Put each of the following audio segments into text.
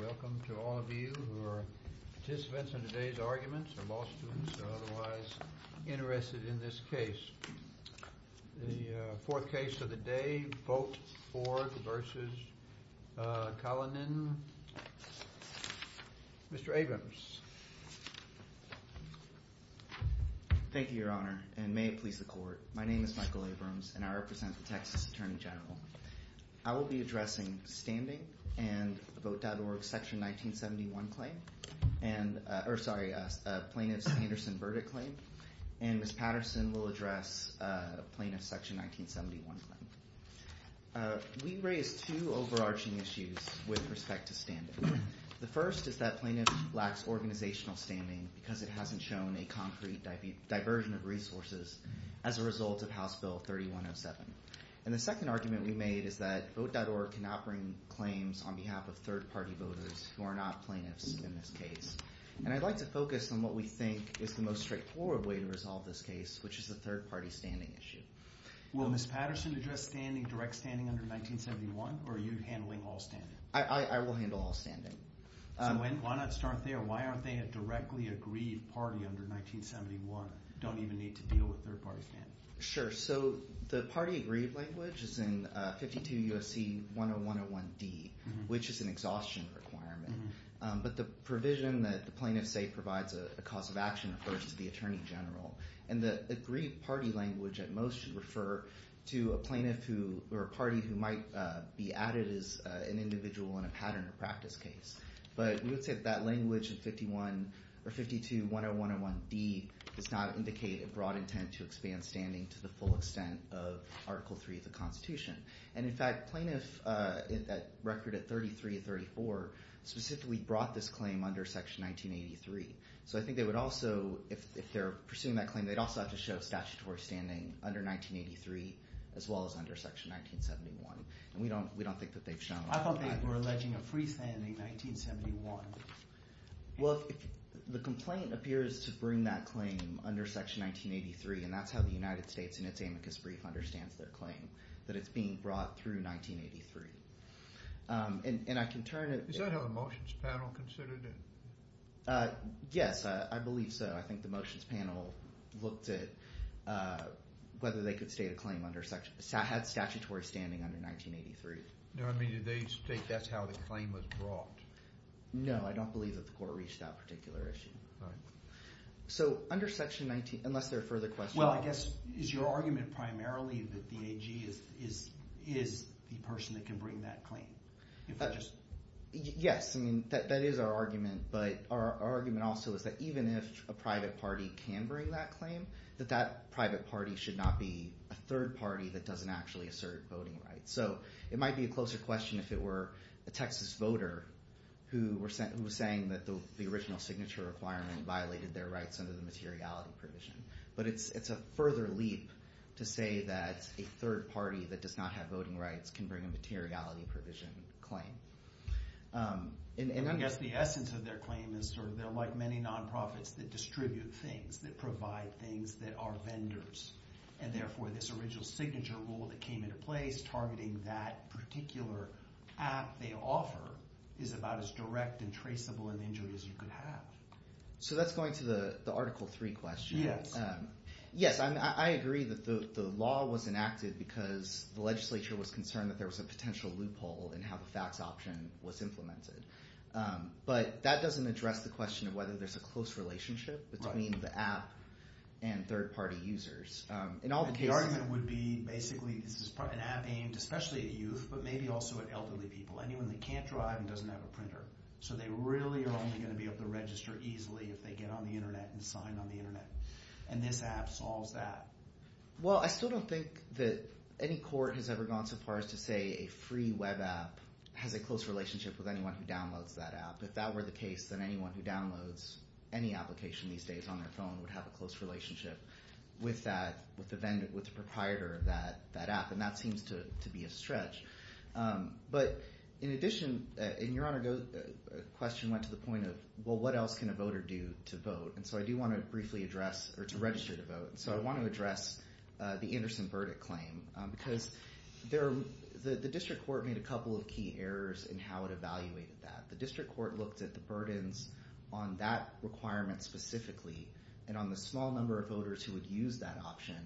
Welcome to all of you who are participants in today's arguments or law students who are otherwise interested in this case. The fourth case of the day, Vought-Ford v. Collinan. Mr. Abrams. Thank you, your honor, and may it please the court. My name is Michael Abrams and I represent the Texas Attorney General. I will be addressing standing and Vought.org's section 1971 claim. And, or sorry, plaintiff's Anderson verdict claim. And Ms. Patterson will address plaintiff's section 1971 claim. We raised two overarching issues with respect to standing. The first is that plaintiff lacks organizational standing because it hasn't shown a concrete diversion of resources as a result of House Bill 3107. And the second argument we made is that Vought.org cannot bring claims on behalf of third party voters who are not plaintiffs in this case. And I'd like to focus on what we think is the most straightforward way to resolve this case, which is the third party standing issue. Will Ms. Patterson address standing, direct standing under 1971, or are you handling all standing? I will handle all standing. So when, why not start there? Why aren't they a directly agreed party under 1971? Don't even need to deal with third party standing. Sure. So the party agreed language is in 52 USC 10101D, which is an exhaustion requirement, but the provision that the plaintiff say provides a cause of action refers to the attorney general. And the agreed party language at most should refer to a plaintiff who, or a party who might be added as an individual in a pattern of practice case. But we would say that language in 51 or 52 10101D does not indicate a broad intent to expand standing to the full extent of article three of the constitution. And in fact, plaintiff in that record at 33, 34, specifically brought this claim under section 1983. So I think they would also, if they're pursuing that claim, they'd also have to show statutory standing under 1983, as well as under section 1971. And we don't, we don't think that they've shown. I thought they were alleging a free standing 1971. Well, if the complaint appears to bring that claim under section 1983, and that's how the United States in its amicus brief understands their claim, that it's being brought through 1983. And I can turn it. Is that how the motions panel considered it? Yes, I believe so. I think the motions panel looked at whether they could state a claim under section, had statutory standing under 1983. No, I mean, did they state that's how the claim was brought? No, I don't believe that the court reached that particular issue. So under section 19, unless there are further questions. Well, I guess is your argument primarily that the AG is, is, is the person that can bring that claim? Yes. I mean, that, that is our argument, but our argument also is that even if a private party can bring that claim, that that private party should not be a third party that doesn't actually assert voting rights. So it might be a closer question if it were a Texas voter who were sent, who was saying that the original signature requirement violated their rights under the materiality provision, but it's, it's a further leap to say that a third party that does not have voting rights can bring a materiality provision claim. And I guess the essence of their claim is sort of they're like many non-profits that distribute things, that provide things that are vendors, and therefore this original signature rule that came into place targeting that particular app they offer is about as direct and traceable an injury as you could have. So that's going to the, the article three question. Yes. Yes. I mean, I agree that the, the law was enacted because the legislature was concerned that there was a potential loophole in how the fax option was implemented but that doesn't address the question of whether there's a close relationship between the app and third party users. In all the cases... And the argument would be basically this is an app aimed especially at youth, but maybe also at elderly people, anyone that can't drive and doesn't have a printer. So they really are only going to be able to register easily if they get on the internet and sign on the internet. And this app solves that. Well, I still don't think that any court has ever gone so far as to say a free web app has a close relationship with anyone who downloads that app. If that were the case, then anyone who downloads any application these days on their phone would have a close relationship with that, with the vendor, with the proprietor of that, that app. And that seems to, to be a stretch. But in addition, and your Honor, the question went to the point of, well, what else can a voter do to vote? And so I do want to briefly address, or to register to vote. And so I want to address the Anderson verdict claim because there, the, the district court made a couple of key errors in how it evaluated that. The district court looked at the burdens on that requirement specifically and on the small number of voters who would use that option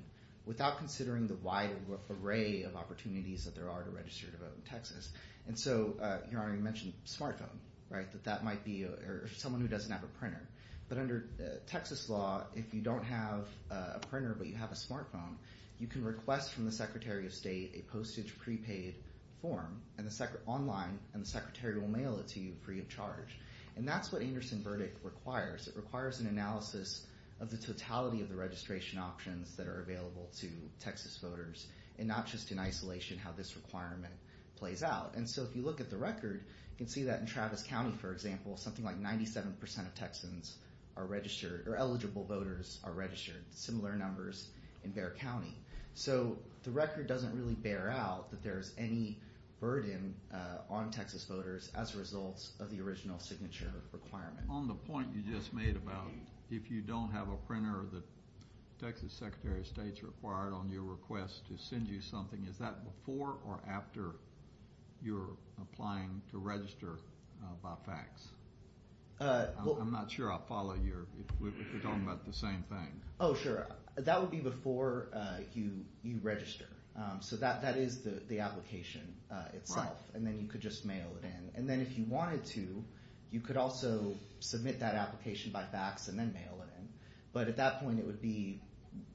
without considering the wide array of opportunities that there are to register to vote in Texas. And so, your Honor, you mentioned smartphone, right? That that might be, or someone who doesn't have a printer. But under Texas law, if you don't have a printer, but you have a smartphone, you can request from the secretary of state a postage prepaid form and the sec, online, and the secretary will mail it to you free of charge. And that's what Anderson verdict requires. It requires an analysis of the totality of the registration options that are available to Texas voters and not just in isolation, how this requirement plays out. And so if you look at the record, you can see that in Travis County, for example, something like 97% of Texans are registered or eligible voters are registered, similar numbers in Bexar County. So the record doesn't really bear out that there's any burden on Texas voters as a result of the original signature requirement. On the point you just made about if you don't have a printer that Texas secretary of state's required on your request to send you something, is that before or after you're applying to register by fax? I'm not sure I follow your, if we're talking about the same thing. Oh, sure. That would be before you register. So that is the application itself. And then you could just mail it in. And then if you wanted to, you could also submit that application by fax and then mail it in. But at that point, it would be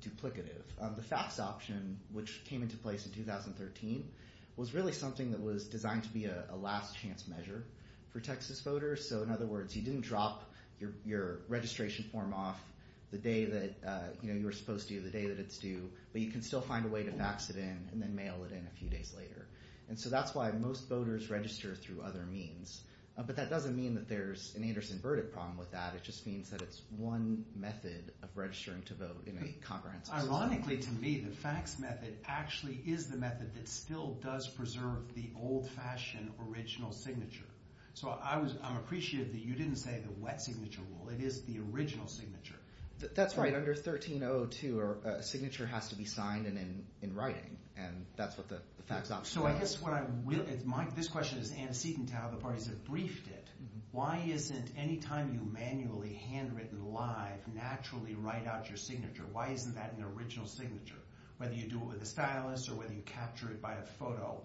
duplicative. The fax option, which came into place in 2013, was really something that was designed to be a last chance measure for Texas voters. So in other words, you didn't drop your registration form off the day that you were supposed to, the day that it's due, but you can still find a way to fax it in and then mail it in a few days later. And so that's why most voters register through other means. But that doesn't mean that there's an Anderson-Burdick problem with that. It just means that it's one method of registering to vote in a comprehensive system. Ironically to me, the fax method actually is the method that still does preserve the old fashioned original signature. So I'm appreciative that you didn't say the wet signature rule. It is the original signature. That's right. Under 13-002, a signature has to be signed and in writing, and that's what the fax option is. So I guess this question is antecedent to how the parties have briefed it. Why isn't any time you manually, handwritten, live, naturally write out your signature? Why isn't that an original signature? Whether you do it with a stylus or whether you capture it by a photo,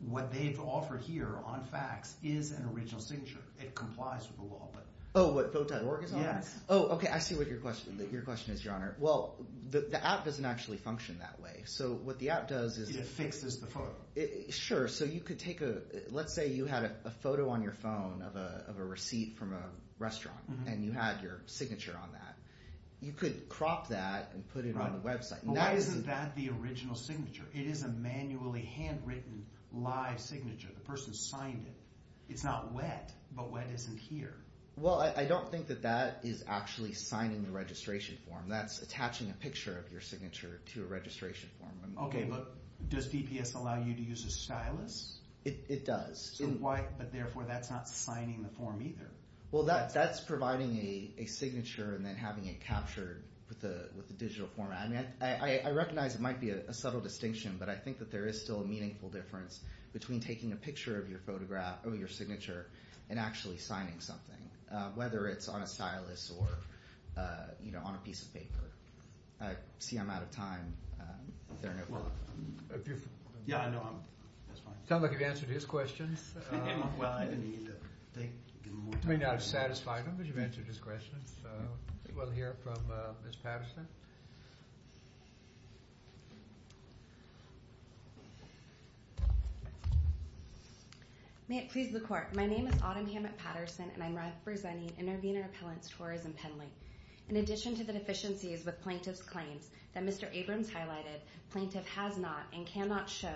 what they've offered here on fax is an original signature. It complies with the law. Oh, what, Vote.org is on it? Yes. Oh, okay. I see what your question is, Your Honor. Well, the app doesn't actually function that way. So what the app does is it fixes the photo. Sure. So you could take a, let's say you had a photo on your phone of a receipt from a restaurant and you had your signature on that. You could crop that and put it on the website. Why isn't that the original signature? It is a manually, handwritten, live signature. The person signed it. It's not wet, but wet isn't here. Well, I don't think that that is actually signing the registration form. That's attaching a picture of your signature to a registration form. Okay. But does DPS allow you to use a stylus? It does. So why, but therefore that's not signing the form either. Well, that's providing a signature and then having it captured with the digital format. I mean, I recognize it might be a subtle distinction, but I think that there is still a meaningful difference between taking a picture of your photograph or your whether it's on a stylus or, you know, on a piece of paper. I see I'm out of time. Yeah, I know. I'm, that's fine. Sounds like you've answered his questions. Well, I didn't need to, they, give him more time. You may not have satisfied him, but you've answered his questions. May it please the court. My name is Autumn Hammett-Patterson and I'm representing Intervenor Appellant's Tourism Pendling. In addition to the deficiencies with plaintiff's claims that Mr. Abrams highlighted, plaintiff has not and cannot show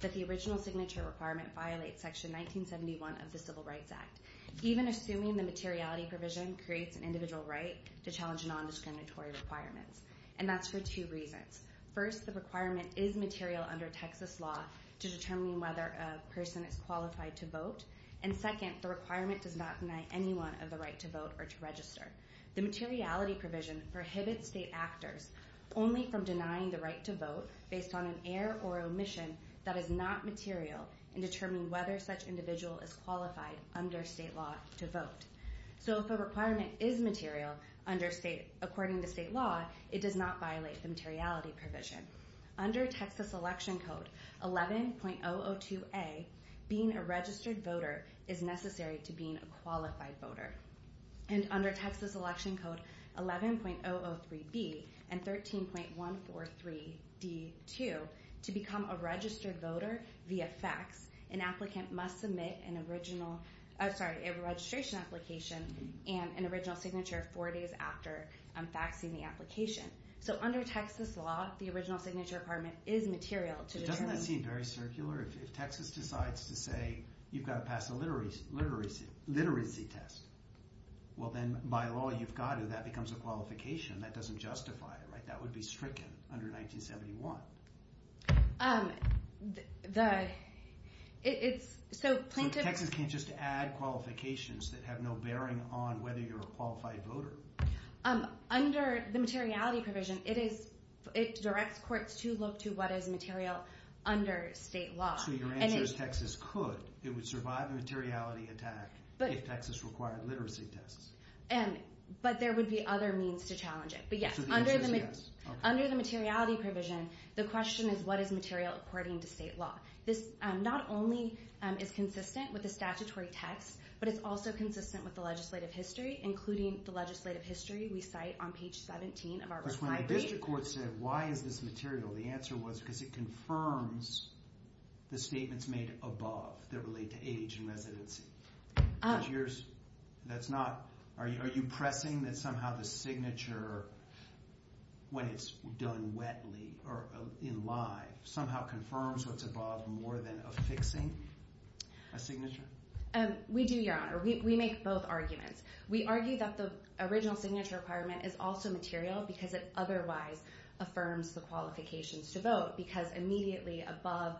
that the original signature requirement violates section 1971 of the Civil Rights Act. Even assuming the materiality provision creates an individual right to challenge non-discriminatory requirements. And that's for two reasons. First, the requirement is material under Texas law to determine whether a person is qualified to vote. And second, the requirement does not deny anyone of the right to vote or to register. The materiality provision prohibits state actors only from denying the right to vote based on an error or omission that is not material in determining whether such individual is qualified under state law to vote. So if a requirement is material under state, according to state law, it does not violate the materiality provision. Under Texas Election Code 11.002A, being a registered voter is necessary to being a qualified voter. And under Texas Election Code 11.003B and 13.143D2, to become a registered voter via fax, an applicant must submit an original, sorry, a registration application and an original signature four days after faxing the application. So under Texas law, the original signature requirement is material to determine. Doesn't that seem very circular? If Texas decides to say you've got to pass a literacy test, well then by law you've got to. That becomes a qualification. That doesn't justify it, right? That would be stricken under 1971. So Texas can't just add qualifications that have no bearing on whether you're a qualified voter? Under the materiality provision, it directs courts to look to what is material under state law. So your answer is Texas could. It would survive a materiality attack if Texas required literacy tests. But there would be other means to challenge it. But yes, under the materiality provision, the question is what is material according to state law? This not only is consistent with the statutory text, but it's also consistent with the legislative history, including the legislative history we cite on page 17 of our recital date. Because when the district court said, why is this material? The answer was because it confirms the statements made above that relate to age and residency. Are you pressing that somehow the signature, when it's done wetly or in live, somehow confirms what's above more than affixing a signature? We do, Your Honor. We make both arguments. We argue that the original signature requirement is also material because it otherwise affirms the qualifications to vote. Because immediately above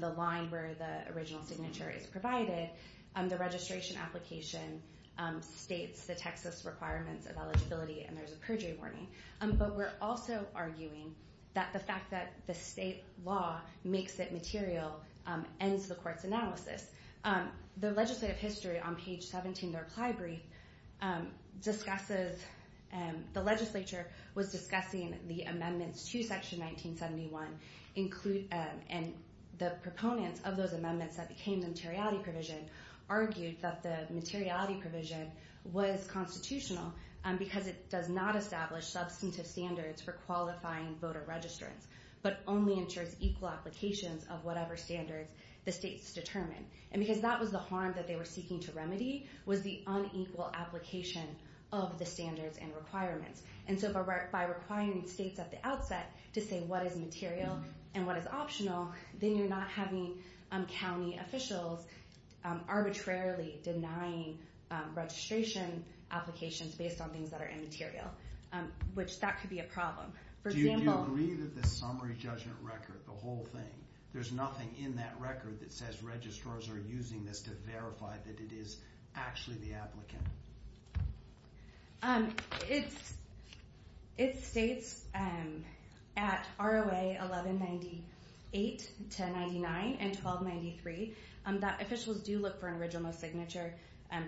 the line where the original signature is provided, the registration application states the Texas requirements of eligibility. And there's a perjury warning. But we're also arguing that the fact that the state law makes it material ends the court's analysis. The legislative history on page 17 of the reply brief discusses, the legislature was discussing the amendments to section 1971, and the proponents of those amendments that became the materiality provision argued that the materiality provision was constitutional because it does not establish substantive standards for qualifying voter registrants, but only ensures equal applications of whatever standards the state has. And because that was the harm that they were seeking to remedy was the unequal application of the standards and requirements. And so by requiring states at the outset to say what is material and what is optional, then you're not having county officials arbitrarily denying registration applications based on things that are immaterial, which that could be a problem. Do you agree that the summary judgment record, the whole thing, there's nothing in that record that says registrars are using this to verify that it is actually the applicant? It states at ROA 1198 to 99 and 1293, that officials do look for an original signature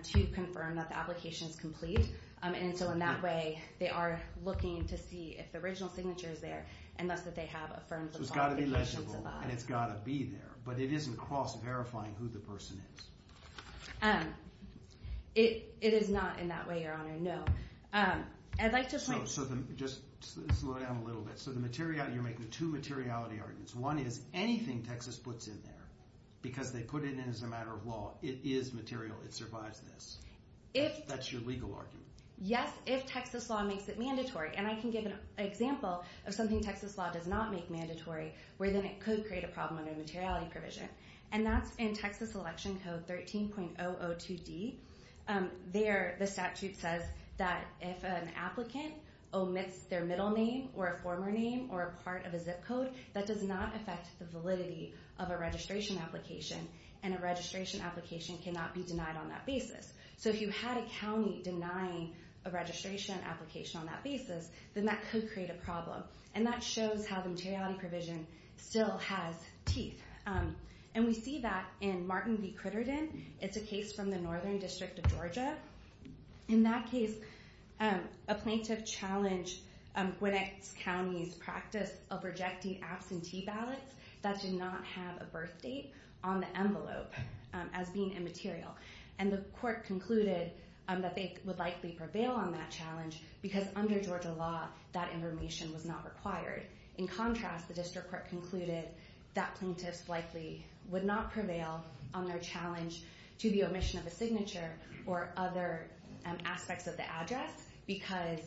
to confirm that the application is complete. And so in that way, they are looking to see if the original signature is there and thus that they have affirmed that the application survived. So it's got to be legible and it's got to be there, but it isn't cross-verifying who the person is. It is not in that way, Your Honor, no. I'd like to point... So just slow down a little bit. So the materiality, you're making two materiality arguments. One is anything Texas puts in there because they put it in as a matter of law, it is material, it survives this. That's your legal argument. Yes, if Texas law makes it mandatory. And I can give an example of something Texas law does not make mandatory, where then it could create a problem under materiality provision. And that's in Texas Election Code 13.002D. There, the statute says that if an applicant omits their middle name or a former name or a part of a zip code, that does not affect the validity of a registration application and a registration application cannot be denied on that basis. So if you had a county denying a registration application on that basis, then that could create a problem. And that shows how the materiality provision still has teeth. And we see that in Martin v. Crittenden. It's a case from the Northern District of Georgia. In that case, a plaintiff challenged Gwinnett County's practice of rejecting absentee ballots that did not have a birth date on the envelope as being immaterial. And the court concluded that they would likely prevail on that challenge because under Georgia law, that information was not required. In contrast, the district court concluded that plaintiffs likely would not prevail on their challenge to the omission of a signature or other aspects of the address because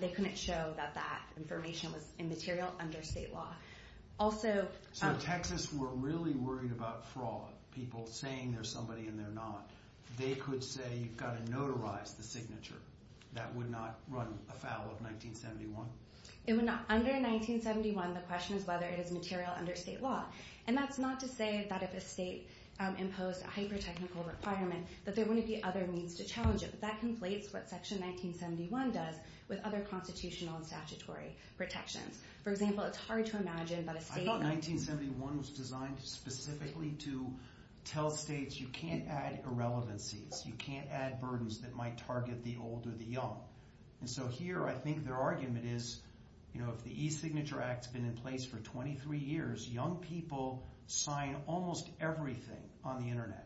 they couldn't show that that information was immaterial under state law. Also... So Texas were really worried about fraud, people saying there's somebody in their They could say, you've got to notarize the signature. That would not run afoul of 1971? It would not. Under 1971, the question is whether it is material under state law. And that's not to say that if a state imposed a hyper-technical requirement, that there wouldn't be other means to challenge it. But that conflates what Section 1971 does with other constitutional and statutory protections. For example, it's hard to imagine that a state... No, 1971 was designed specifically to tell states you can't add irrelevancies, you can't add burdens that might target the old or the young. And so here, I think their argument is, you know, if the e-signature act's been in place for 23 years, young people sign almost everything on the Internet.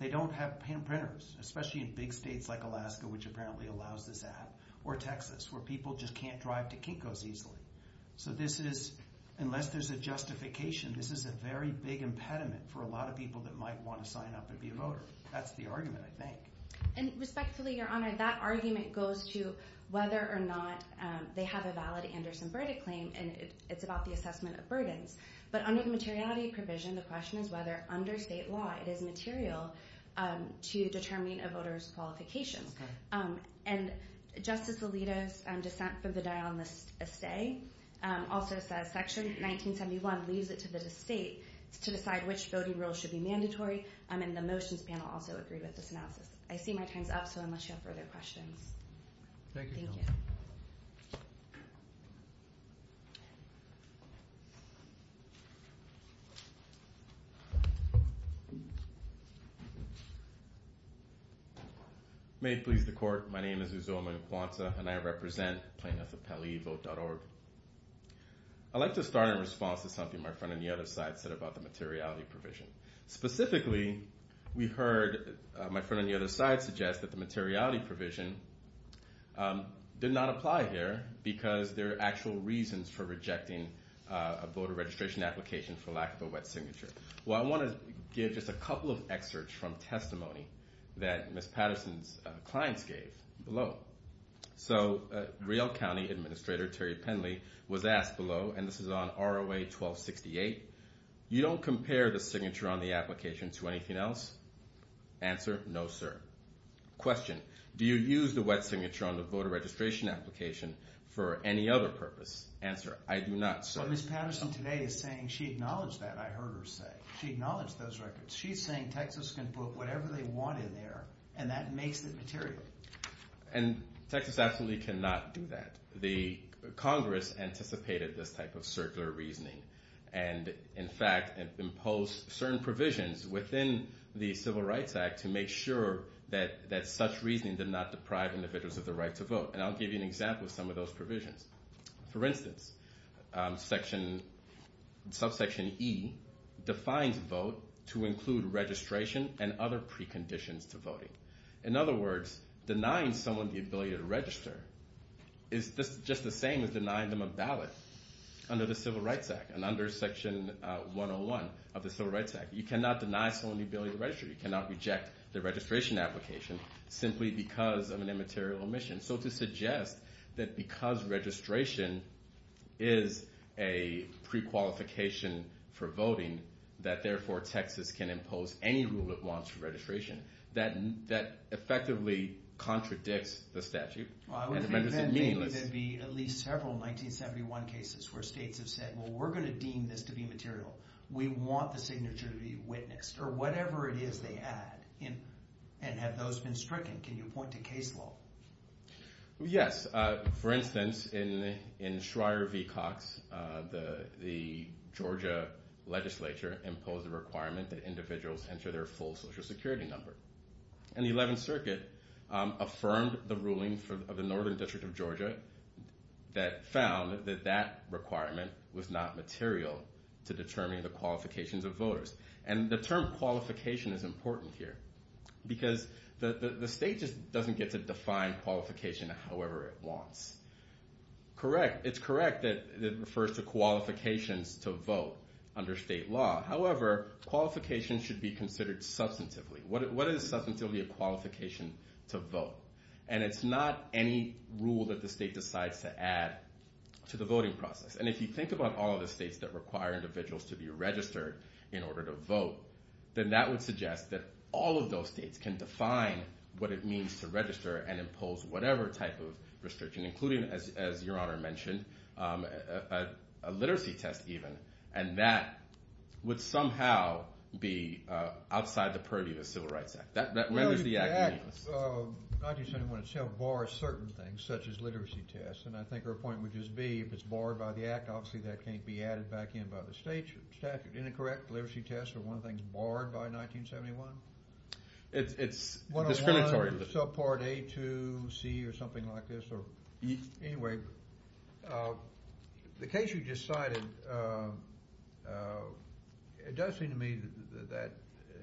They don't have pen printers, especially in big states like Alaska, which apparently allows this app, or Texas, where people just can't drive to Kinko's easily. So this is, unless there's a justification, this is a very big impediment for a lot of people that might want to sign up and be a voter. That's the argument, I think. And respectfully, Your Honor, that argument goes to whether or not they have a valid Anderson-Burda claim. And it's about the assessment of burdens. But under the materiality provision, the question is whether under state law, it is material to determine a voter's qualifications. And Justice Alito's dissent for the die on the stay also says Section 1971 leaves it to the state to decide which voting rules should be mandatory. And the motions panel also agreed with this analysis. I see my time's up, so unless you have further questions. Thank you. May it please the court. My name is Uzoma Nkwansa, and I represent PlaintiffsAppelleeVote.org. I'd like to start in response to something my friend on the other side said about the materiality provision. Specifically, we heard my friend on the other side suggest that the materiality provision did not apply here because there are actual reasons for rejecting a voter registration application for lack of a wet signature. Well, I want to give just a couple of excerpts from testimony that Ms. Patterson's clients gave below. So, Real County Administrator Terry Penley was asked below, and this is on ROA 1268, you don't compare the signature on the application to anything else? Answer, no, sir. Question, do you use the wet signature on the voter registration application for any other purpose? Answer, I do not, sir. Well, Ms. Patterson today is saying she acknowledged that, I heard her say. She acknowledged those records. She's saying Texas can put whatever they want in there, and that makes it material. And Texas absolutely cannot do that. The Congress anticipated this type of circular reasoning, and in fact, imposed certain provisions that such reasoning did not deprive individuals of the right to vote. And I'll give you an example of some of those provisions. For instance, subsection E defines vote to include registration and other preconditions to voting. In other words, denying someone the ability to register is just the same as denying them a ballot under the Civil Rights Act and under section 101 of the Civil Rights Act. You cannot deny someone the ability to register. You cannot reject the registration application simply because of an immaterial omission. So to suggest that because registration is a prequalification for voting, that therefore Texas can impose any rule it wants for registration, that effectively contradicts the statute. Well, I would think then there'd be at least several 1971 cases where states have said, well, we're going to deem this to be material. We want the signature to be witnessed, or whatever it is they add, and have those been stricken. Can you point to case law? Yes. For instance, in Schreyer v. Cox, the Georgia legislature imposed a requirement that individuals enter their full Social Security number. And the 11th Circuit affirmed the ruling of the Northern District of Georgia that found that that requirement was not material to determine the qualifications of voters. And the term qualification is important here, because the state just doesn't get to define qualification however it wants. Correct. It's correct that it refers to qualifications to vote under state law. However, qualifications should be considered substantively. What is substantively a qualification to vote? And it's not any rule that the state decides to add to the voting process. And if you think about all of the states that require individuals to be registered in order to vote, then that would suggest that all of those states can define what it means to register and impose whatever type of restriction, including, as Your Honor mentioned, a literacy test, even. And that would somehow be outside the purview of the Civil Rights Act. That renders the act meaningless. 1971 itself bars certain things, such as literacy tests. And I think her point would just be, if it's barred by the act, obviously that can't be added back in by the state statute. Isn't that correct? Literacy tests are one of the things barred by 1971? It's discriminatory. 101, subpart A2, C, or something like this. Anyway, the case you just cited, it does seem to me that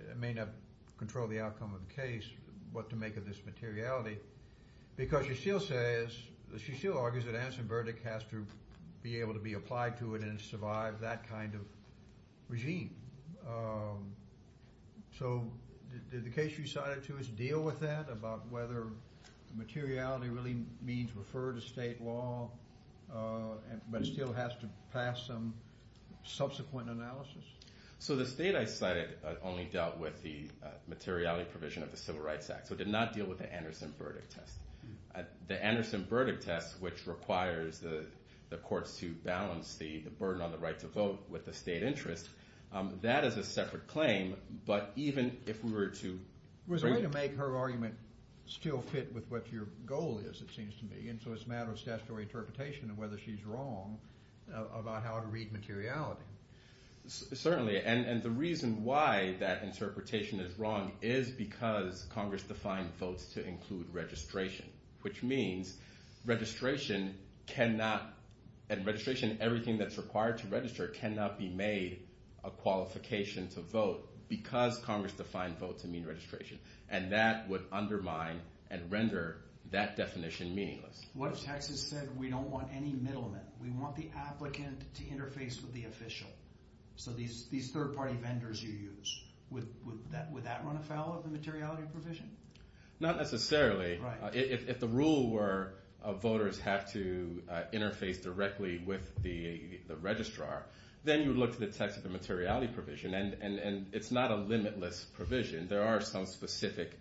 it may not control the outcome of the case, what to make of this materiality, because you still say, you still argue that Anson Burdick has to be able to be applied to it and survive that kind of regime. So did the case you cited to us deal with that, about whether materiality really means refer to state law, but it still has to pass some subsequent analysis? So the state I cited only dealt with the materiality provision of the Civil Rights Act. So it did not deal with the Anderson Burdick test. The Anderson Burdick test, which requires the courts to balance the burden on the right to vote with the state interest, that is a separate claim. But even if we were to... It was a way to make her argument still fit with what your goal is, it seems to me. And so it's a matter of statutory interpretation of whether she's wrong about how to read materiality. Certainly, and the reason why that interpretation is wrong is because Congress defined votes to include registration, which means registration cannot, and registration, everything that's required to register, cannot be made a qualification to vote because Congress defined votes to mean registration. And that would undermine and render that definition meaningless. What if Texas said, we don't want any middlemen, we want the applicant to interface with the official? So these third-party vendors you use, would that run afoul of the materiality provision? Not necessarily. Right. If the rule were voters have to interface directly with the registrar, then you would look to the text of the materiality provision, and it's not a limitless provision. There are some specific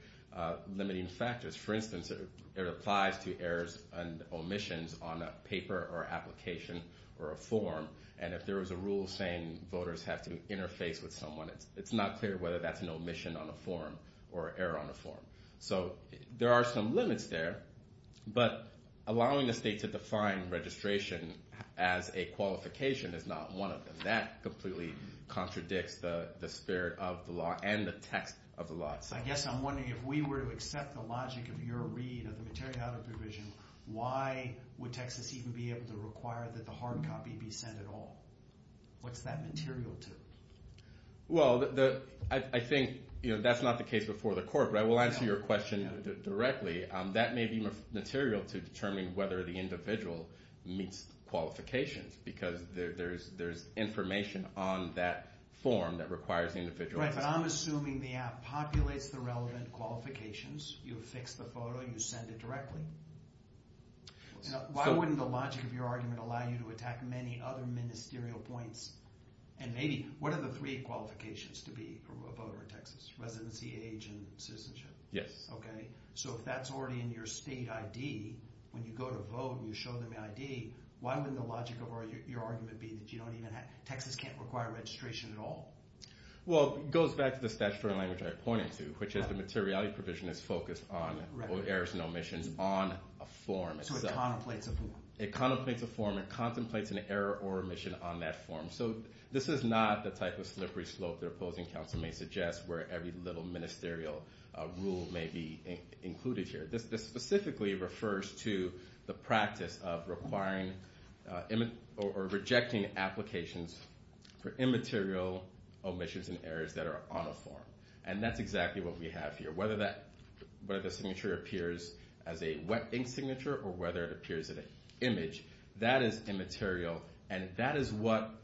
limiting factors. For instance, it applies to errors and omissions on a paper or application or a form. And if there was a rule saying voters have to interface with someone, it's not clear whether that's an omission on a form or error on a form. So there are some limits there, but allowing the state to define registration as a qualification is not one of them. That completely contradicts the spirit of the law and the text of the law itself. I guess I'm wondering, if we were to accept the logic of your read of the materiality provision, why would Texas even be able to require that the hard copy be sent at all? What's that material to? Well, I think that's not the case before the court, but I will answer your question directly. That may be material to determining whether the individual meets qualifications, because there's information on that form that requires the individual to sign. Right, but I'm assuming the app populates the relevant qualifications. You affix the photo and you send it directly. Why wouldn't the logic of your argument allow you to attack many other ministerial points? And maybe, what are the three qualifications to be a voter in Texas? Residency, age, and citizenship? Yes. Okay, so if that's already in your state ID, when you go to vote and you show them the ID, why wouldn't the logic of your argument be that you don't even have, Texas can't require registration at all? Well, it goes back to the statutory language I pointed to, which is the materiality provision is focused on errors and omissions on a form itself. So it contemplates a form. It contemplates a form. It contemplates an error or omission on that form. So this is not the type of slippery slope that opposing counsel may suggest where every little ministerial rule may be included here. This specifically refers to the practice of requiring or rejecting applications for immaterial omissions and errors that are on a form. And that's exactly what we have here. Whether the signature appears as a wet ink signature or whether it appears as an image, that is immaterial and that is what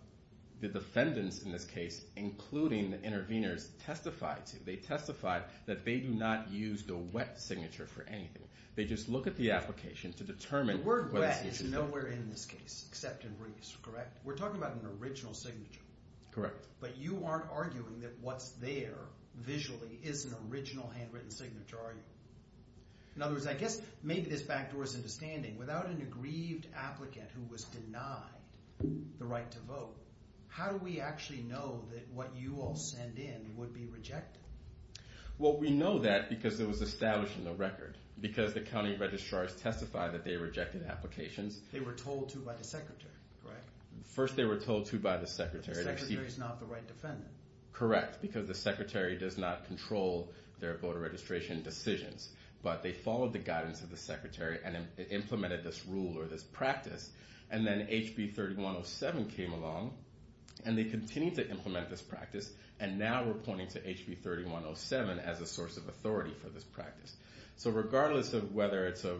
the defendants in this case, including the interveners, testify to. They testify that they do not use the wet signature for anything. They just look at the application to determine whether the signature is wet. The word wet is nowhere in this case except in Reese, correct? We're talking about an original signature. Correct. But you aren't arguing that what's there visually is an original handwritten signature, are you? In other words, I guess maybe this backdoors into standing. Without an aggrieved applicant who was denied the right to vote, how do we actually know that what you all send in would be rejected? Well, we know that because it was established in the record. Because the county registrars testify that they rejected applications. They were told to by the secretary, correct? First they were told to by the secretary. Because the secretary is not the right defendant. Correct. Because the secretary does not control their voter registration decisions. But they followed the guidance of the secretary and implemented this rule or this practice. And then HB 3107 came along and they continued to implement this practice. And now we're pointing to HB 3107 as a source of authority for this practice. So regardless of whether it's a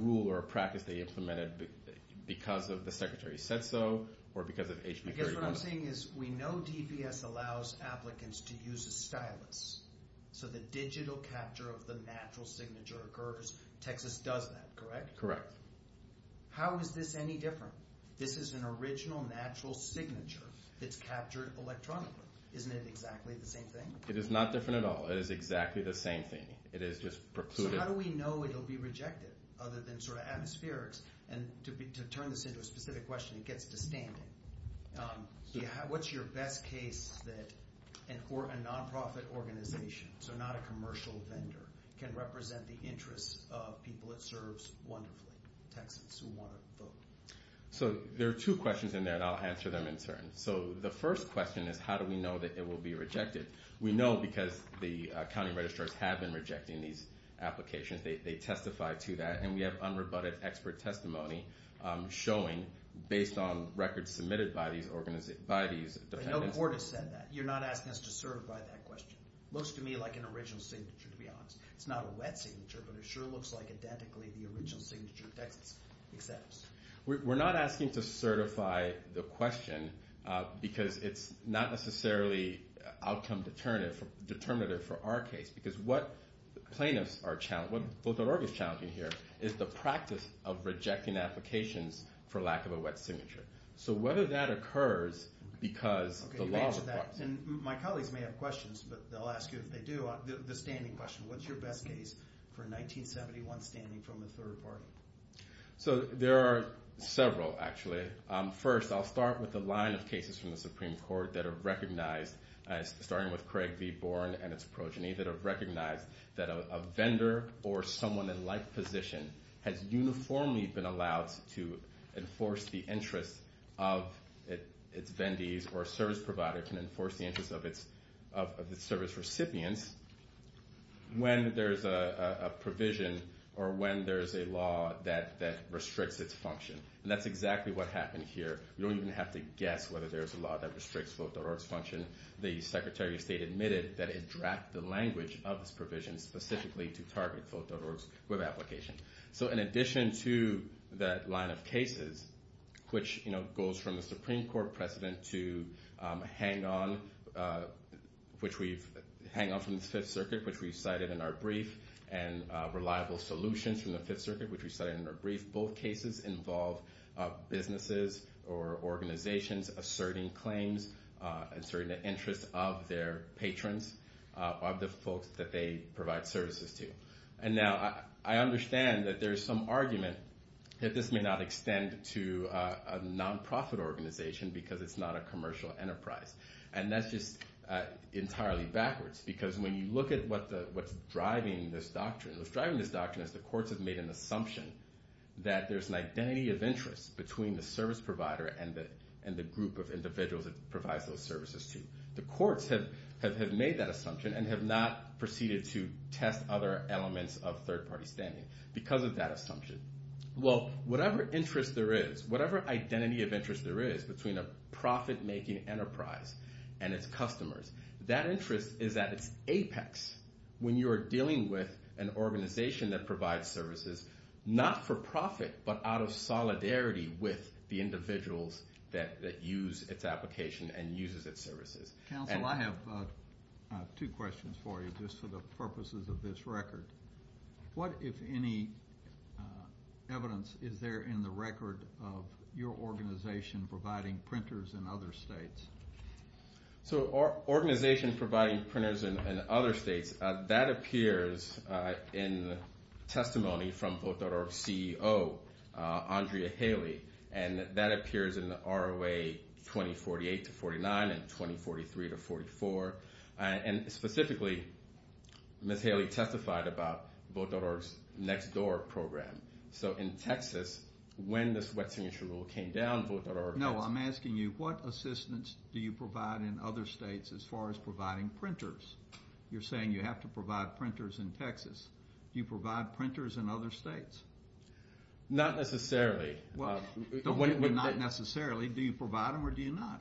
rule or a practice they implemented because the secretary said so or because of HB 3107. I guess what I'm saying is we know DPS allows applicants to use a stylus. So the digital capture of the natural signature occurs. Texas does that, correct? Correct. How is this any different? This is an original natural signature that's captured electronically. Isn't it exactly the same thing? It is not different at all. It is exactly the same thing. It is just precluded. So how do we know it will be rejected other than sort of atmospherics? And to turn this into a specific question, it gets to standing. What's your best case that a nonprofit organization, so not a commercial vendor, can represent the interests of people it serves wonderfully, Texans who want to vote? So there are two questions in there and I'll answer them in turn. So the first question is how do we know that it will be rejected? We know because the county registrars have been rejecting these applications. They testify to that. And we have unrebutted expert testimony showing, based on records submitted by these defendants. But no court has said that. You're not asking us to certify that question. It looks to me like an original signature, to be honest. It's not a wet signature, but it sure looks like, identically, the original signature that Texas accepts. We're not asking to certify the question because it's not necessarily outcome determinative for our case. Because what plaintiffs are challenged, what Vote.org is challenging here, is the practice of rejecting applications for lack of a wet signature. So whether that occurs because the law requires it. My colleagues may have questions, but they'll ask you if they do, the standing question. What's your best case for a 1971 standing from a third party? So there are several, actually. First I'll start with the line of cases from the Supreme Court that are recognized, starting with Craig v. Bourne and its progeny, that have recognized that a vendor or someone in life position has uniformly been allowed to enforce the interests of its vendees or service provider can enforce the interests of its service recipients when there's a provision or when there's a law that restricts its function. And that's exactly what happened here. You don't even have to guess whether there's a law that restricts Vote.org's function. The Secretary of State admitted that it dragged the language of this provision specifically to target Vote.org's web application. So in addition to that line of cases, which goes from the Supreme Court precedent to Hang On, which we've, Hang On from the Fifth Circuit, which we cited in our brief, and Reliable Solutions from the Fifth Circuit, which we cited in our brief, both cases involve businesses or organizations asserting claims, asserting the interests of their patrons, of the folks that they provide services to. And now I understand that there's some argument that this may not extend to a nonprofit organization because it's not a commercial enterprise. And that's just entirely backwards. Because when you look at what's driving this doctrine, what's driving this doctrine is the courts have made an assumption that there's an identity of interest between the service provider and the group of individuals it provides those services to. The courts have made that assumption and have not proceeded to test other elements of third party standing because of that assumption. Well, whatever interest there is, whatever identity of interest there is between a profit-making enterprise and its customers, that interest is at its apex when you are dealing with an that use its application and uses its services. Counsel, I have two questions for you just for the purposes of this record. What if any evidence is there in the record of your organization providing printers in other states? So our organization providing printers in other states, that appears in testimony from the ROA 2048-49 and 2043-44. And specifically, Ms. Haley testified about Vote.org's Next Door program. So in Texas, when this wet signature rule came down, Vote.org... No, I'm asking you what assistance do you provide in other states as far as providing printers? You're saying you have to provide printers in Texas. Do you provide printers in other states? Not necessarily. Not necessarily. Do you provide them or do you not?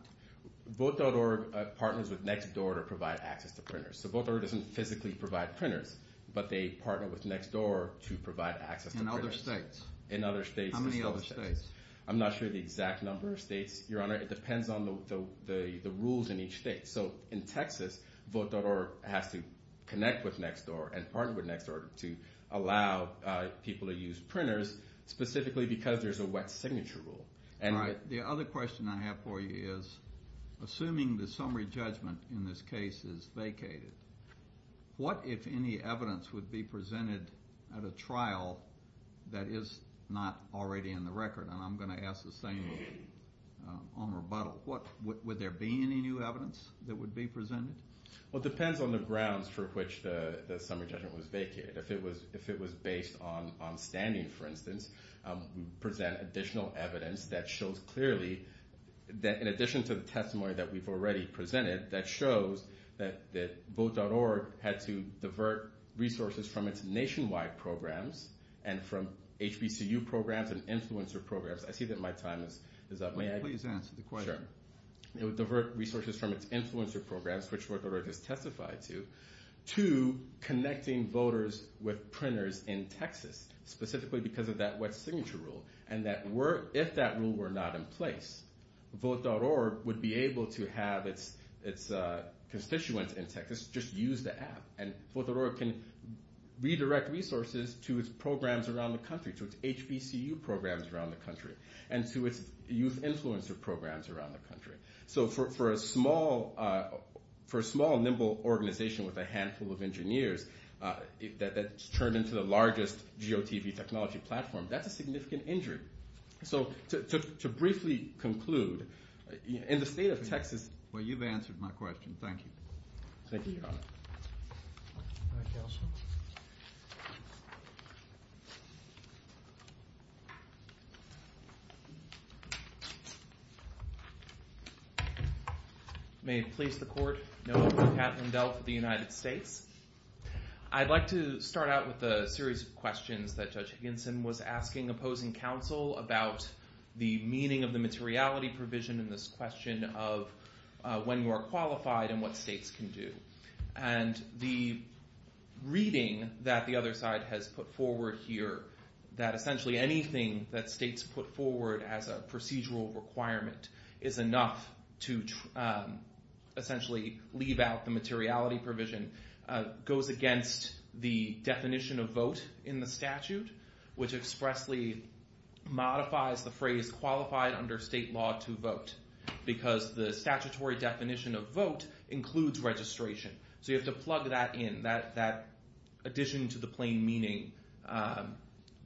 Vote.org partners with Next Door to provide access to printers. So Vote.org doesn't physically provide printers, but they partner with Next Door to provide access to printers. In other states? In other states. How many other states? I'm not sure the exact number of states, Your Honor. It depends on the rules in each state. So in Texas, Vote.org has to connect with Next Door and partner with Next Door to allow people to use printers, specifically because there's a wet signature rule. The other question I have for you is, assuming the summary judgment in this case is vacated, what if any evidence would be presented at a trial that is not already in the record? And I'm going to ask the same of Omer Buttle. Would there be any new evidence that would be presented? Well, it depends on the grounds for which the summary judgment was vacated. If it was based on standing, for instance, we would present additional evidence that shows clearly that, in addition to the testimony that we've already presented, that shows that Vote.org had to divert resources from its nationwide programs and from HBCU programs and influencer programs. I see that my time is up. May I? Please answer the question. Sure. It would divert resources from its influencer programs, which Vote.org has testified to, to connecting voters with printers in Texas, specifically because of that wet signature rule. And if that rule were not in place, Vote.org would be able to have its constituents in Texas just use the app. And Vote.org can redirect resources to its programs around the country, to its HBCU programs around the country, and to its youth influencer programs around the country. So for a small, nimble organization with a handful of engineers that's turned into the largest geotelevision technology platform, that's a significant injury. So to briefly conclude, in the state of Texas... Well, you've answered my question. Thank you. Thank you, Your Honor. May it please the Court, no, Pat Lindell for the United States. I'd like to start out with a series of questions that Judge Higginson was asking opposing counsel about the meaning of the materiality provision in this question of when you are qualified and what states can do. And the reading that the other side has put forward here, that essentially anything that to essentially leave out the materiality provision goes against the definition of vote in the statute, which expressly modifies the phrase qualified under state law to vote. Because the statutory definition of vote includes registration. So you have to plug that in, that addition to the plain meaning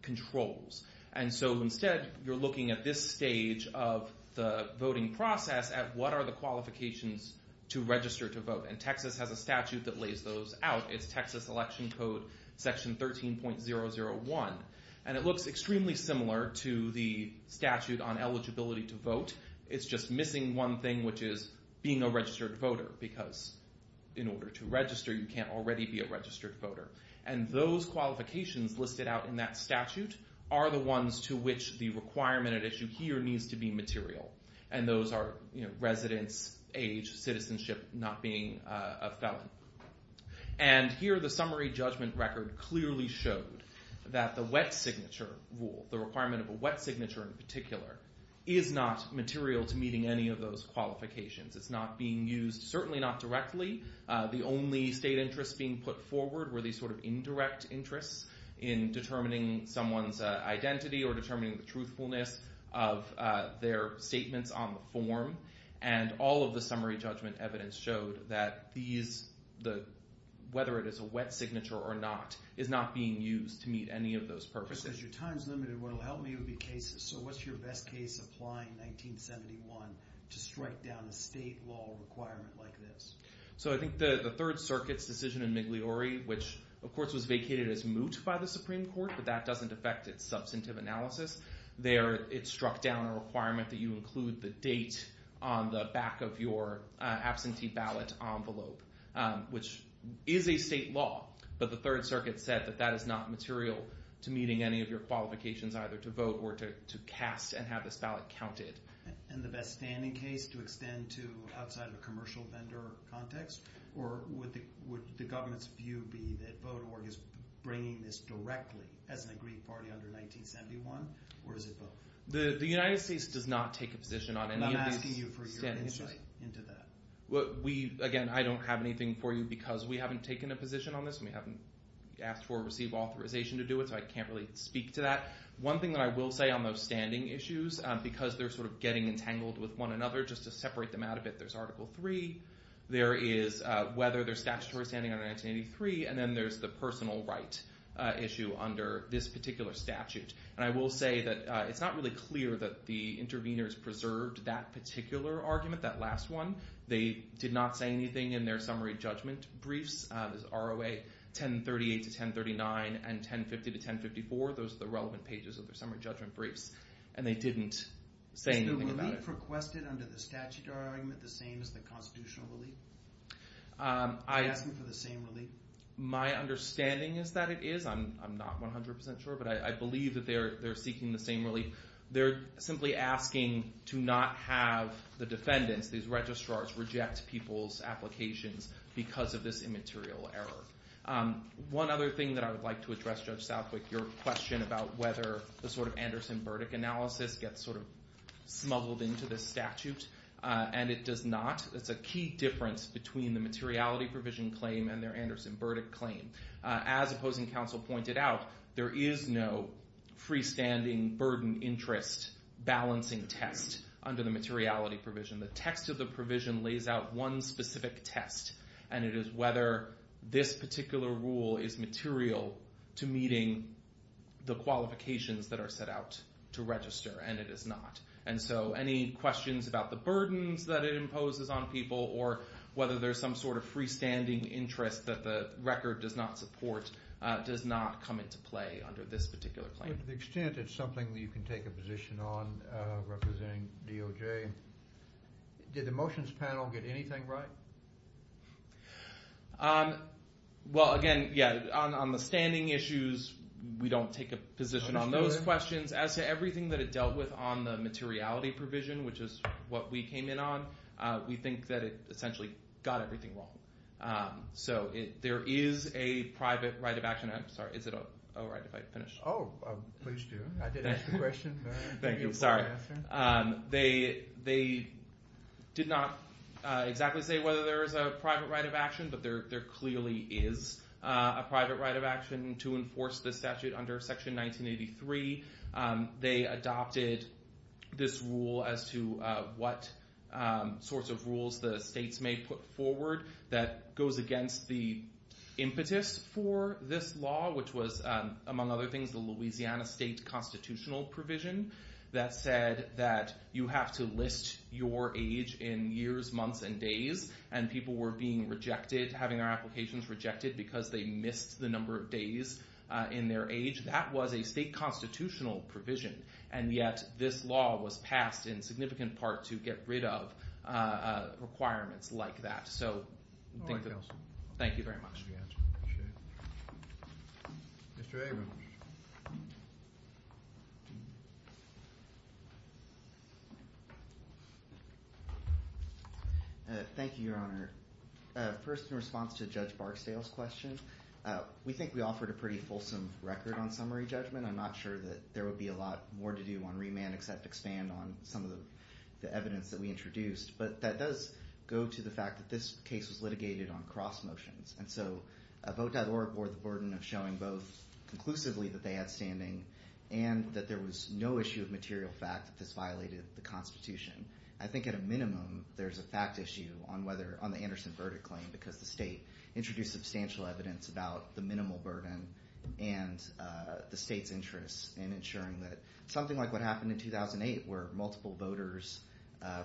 controls. And so instead, you're looking at this stage of the voting process at what are the qualifications to register to vote. And Texas has a statute that lays those out. It's Texas Election Code Section 13.001. And it looks extremely similar to the statute on eligibility to vote. It's just missing one thing, which is being a registered voter. Because in order to register, you can't already be a registered voter. And those qualifications listed out in that statute are the ones to which the requirement at issue here needs to be material. And those are residence, age, citizenship, not being a felon. And here, the summary judgment record clearly showed that the wet signature rule, the requirement of a wet signature in particular, is not material to meeting any of those qualifications. It's not being used, certainly not directly, the only state interest being put forward were these sort of indirect interests in determining someone's identity or determining the truthfulness of their statements on the form. And all of the summary judgment evidence showed that these, whether it is a wet signature or not, is not being used to meet any of those purposes. Because your time's limited, what will help me would be cases. So what's your best case applying 1971 to strike down a state law requirement like this? So I think the Third Circuit's decision in Migliore, which of course was vacated as moot by the Supreme Court, but that doesn't affect its substantive analysis. There, it struck down a requirement that you include the date on the back of your absentee ballot envelope, which is a state law. But the Third Circuit said that that is not material to meeting any of your qualifications, either to vote or to cast and have this ballot counted. And the best standing case to extend to outside of a commercial vendor context, or would the government's view be that Voter Org is bringing this directly as an agreed party under 1971, or is it both? The United States does not take a position on any of these standing issues. And I'm asking you for your insight into that. We, again, I don't have anything for you because we haven't taken a position on this and we haven't asked for or received authorization to do it, so I can't really speak to that. One thing that I will say on those standing issues, because they're sort of getting entangled with one another, just to separate them out a bit, there's Article III, there is whether they're statutory standing under 1983, and then there's the personal right issue under this particular statute. And I will say that it's not really clear that the interveners preserved that particular argument, that last one. They did not say anything in their summary judgment briefs, ROA 1038 to 1039 and 1050 to 1054, those are the relevant pages of their summary judgment briefs, and they didn't say anything about it. Is the relief requested under the statutory argument the same as the constitutional relief? Are you asking for the same relief? My understanding is that it is, I'm not 100% sure, but I believe that they're seeking the same relief. They're simply asking to not have the defendants, these registrars, reject people's applications because of this immaterial error. One other thing that I would like to address, Judge Southwick, your question about whether the sort of Anderson-Burdick analysis gets sort of smuggled into this statute, and it does not. It's a key difference between the materiality provision claim and their Anderson-Burdick claim. As opposing counsel pointed out, there is no freestanding burden interest balancing test under the materiality provision. The text of the provision lays out one specific test, and it is whether this particular rule is material to meeting the qualifications that are set out to register, and it is not. Any questions about the burdens that it imposes on people or whether there's some sort of freestanding interest that the record does not support does not come into play under this particular claim. But to the extent it's something that you can take a position on representing DOJ, did the motions panel get anything right? Well, again, yeah, on the standing issues, we don't take a position on those questions. As to everything that it dealt with on the materiality provision, which is what we came in on, we think that it essentially got everything wrong. So there is a private right of action. I'm sorry. Is it all right if I finish? Oh, please do. I did ask a question. Thank you. Sorry. They did not exactly say whether there is a private right of action, but there clearly is a private right of action to enforce the statute under Section 1983. They adopted this rule as to what sorts of rules the states may put forward that goes against the impetus for this law, which was, among other things, the Louisiana state constitutional provision that said that you have to list your age in years, months, and days. And people were being rejected, having their applications rejected, because they missed the number of days in their age. That was a state constitutional provision. And yet, this law was passed in significant part to get rid of requirements like that. So I think that's it. All right, counsel. Thank you very much. Appreciate it. Mr. Abrams. Thank you, Your Honor. First, in response to Judge Barksdale's question, we think we offered a pretty fulsome record on summary judgment. I'm not sure that there would be a lot more to do on remand, except expand on some of It's not a state statute. It's not a state statute. It's not a state statute. It's not a state statute. on cross motions. And so Vote.org bore the burden of showing both conclusively that they had standing, and that there was no issue of material fact that this violated the Constitution. I think at a minimum, there's a fact issue on the Anderson verdict claim, because the state introduced substantial evidence about the minimal burden and the state's interest in ensuring that something like what happened in 2008, where multiple voters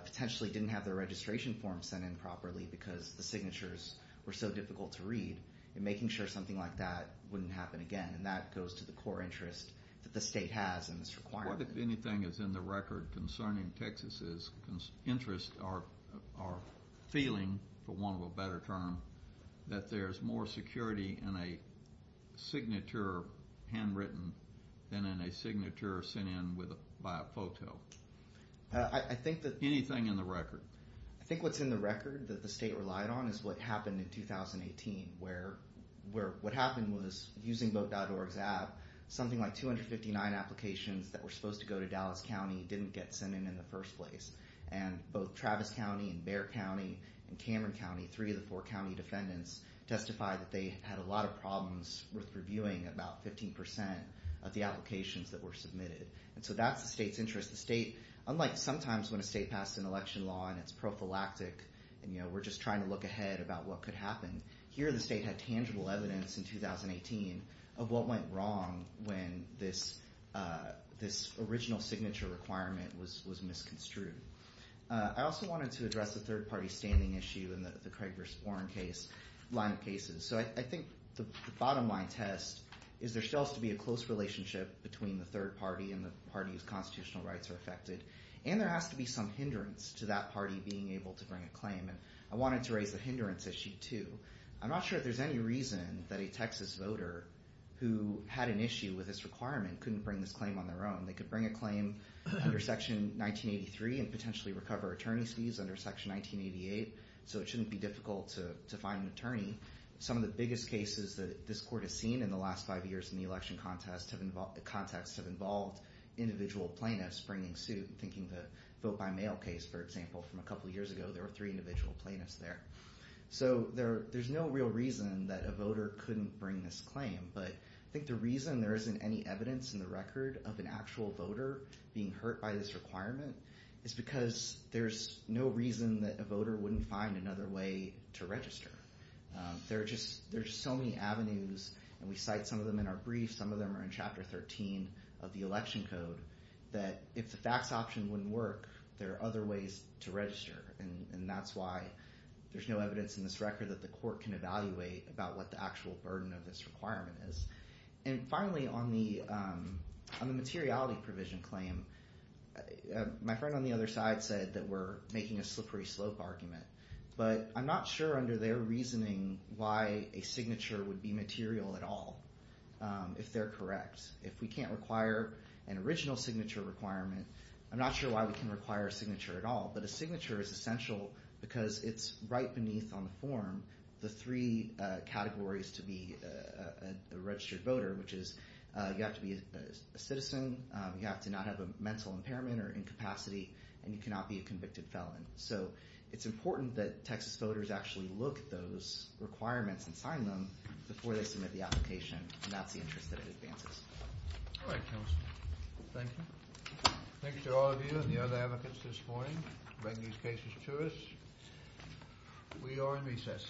potentially didn't have their registration form sent in properly, because the signatures were so difficult to read, and making sure something like that wouldn't happen again. And that goes to the core interest that the state has in this requirement. What, if anything, is in the record concerning Texas's interest or feeling, for want of a better term, that there's more security in a signature handwritten than in a signature sent in by a photo? I think that Is anything in the record? I think what's in the record that the state relied on is what happened in 2018, where what happened was, using Vote.org's app, something like 259 applications that were supposed to go to Dallas County didn't get sent in in the first place. And both Travis County, and Bexar County, and Cameron County, three of the four county defendants testified that they had a lot of problems with reviewing about 15% of the applications that were submitted. And so that's the state's interest. Unlike sometimes when a state passed an election law, and it's prophylactic, and we're just trying to look ahead about what could happen, here the state had tangible evidence in 2018 of what went wrong when this original signature requirement was misconstrued. I also wanted to address the third party standing issue in the Craig v. Warren line of cases. So I think the bottom line test is there still has to be a close relationship between the parties that are affected, and there has to be some hindrance to that party being able to bring a claim. And I wanted to raise the hindrance issue too. I'm not sure if there's any reason that a Texas voter who had an issue with this requirement couldn't bring this claim on their own. They could bring a claim under Section 1983 and potentially recover attorney's fees under Section 1988, so it shouldn't be difficult to find an attorney. Some of the biggest cases that this court has seen in the last five years in the election contest have involved individual plaintiffs bringing suit and thinking the vote by mail case, for example, from a couple years ago, there were three individual plaintiffs there. So there's no real reason that a voter couldn't bring this claim, but I think the reason there isn't any evidence in the record of an actual voter being hurt by this requirement is because there's no reason that a voter wouldn't find another way to register. There are just so many avenues, and we cite some of them in our briefs, some of them are in Chapter 13 of the election code, that if the fax option wouldn't work, there are other ways to register, and that's why there's no evidence in this record that the court can evaluate about what the actual burden of this requirement is. And finally, on the materiality provision claim, my friend on the other side said that they were making a slippery slope argument, but I'm not sure under their reasoning why a signature would be material at all, if they're correct. If we can't require an original signature requirement, I'm not sure why we can require a signature at all, but a signature is essential because it's right beneath on the form the three categories to be a registered voter, which is you have to be a citizen, you have to not have a mental impairment or incapacity, and you cannot be a convicted felon. So it's important that Texas voters actually look at those requirements and sign them before they submit the application, and that's the interest that advances. All right, Councilman. Thank you. Thank you to all of you and the other advocates this morning for bringing these cases to us. We are in recess.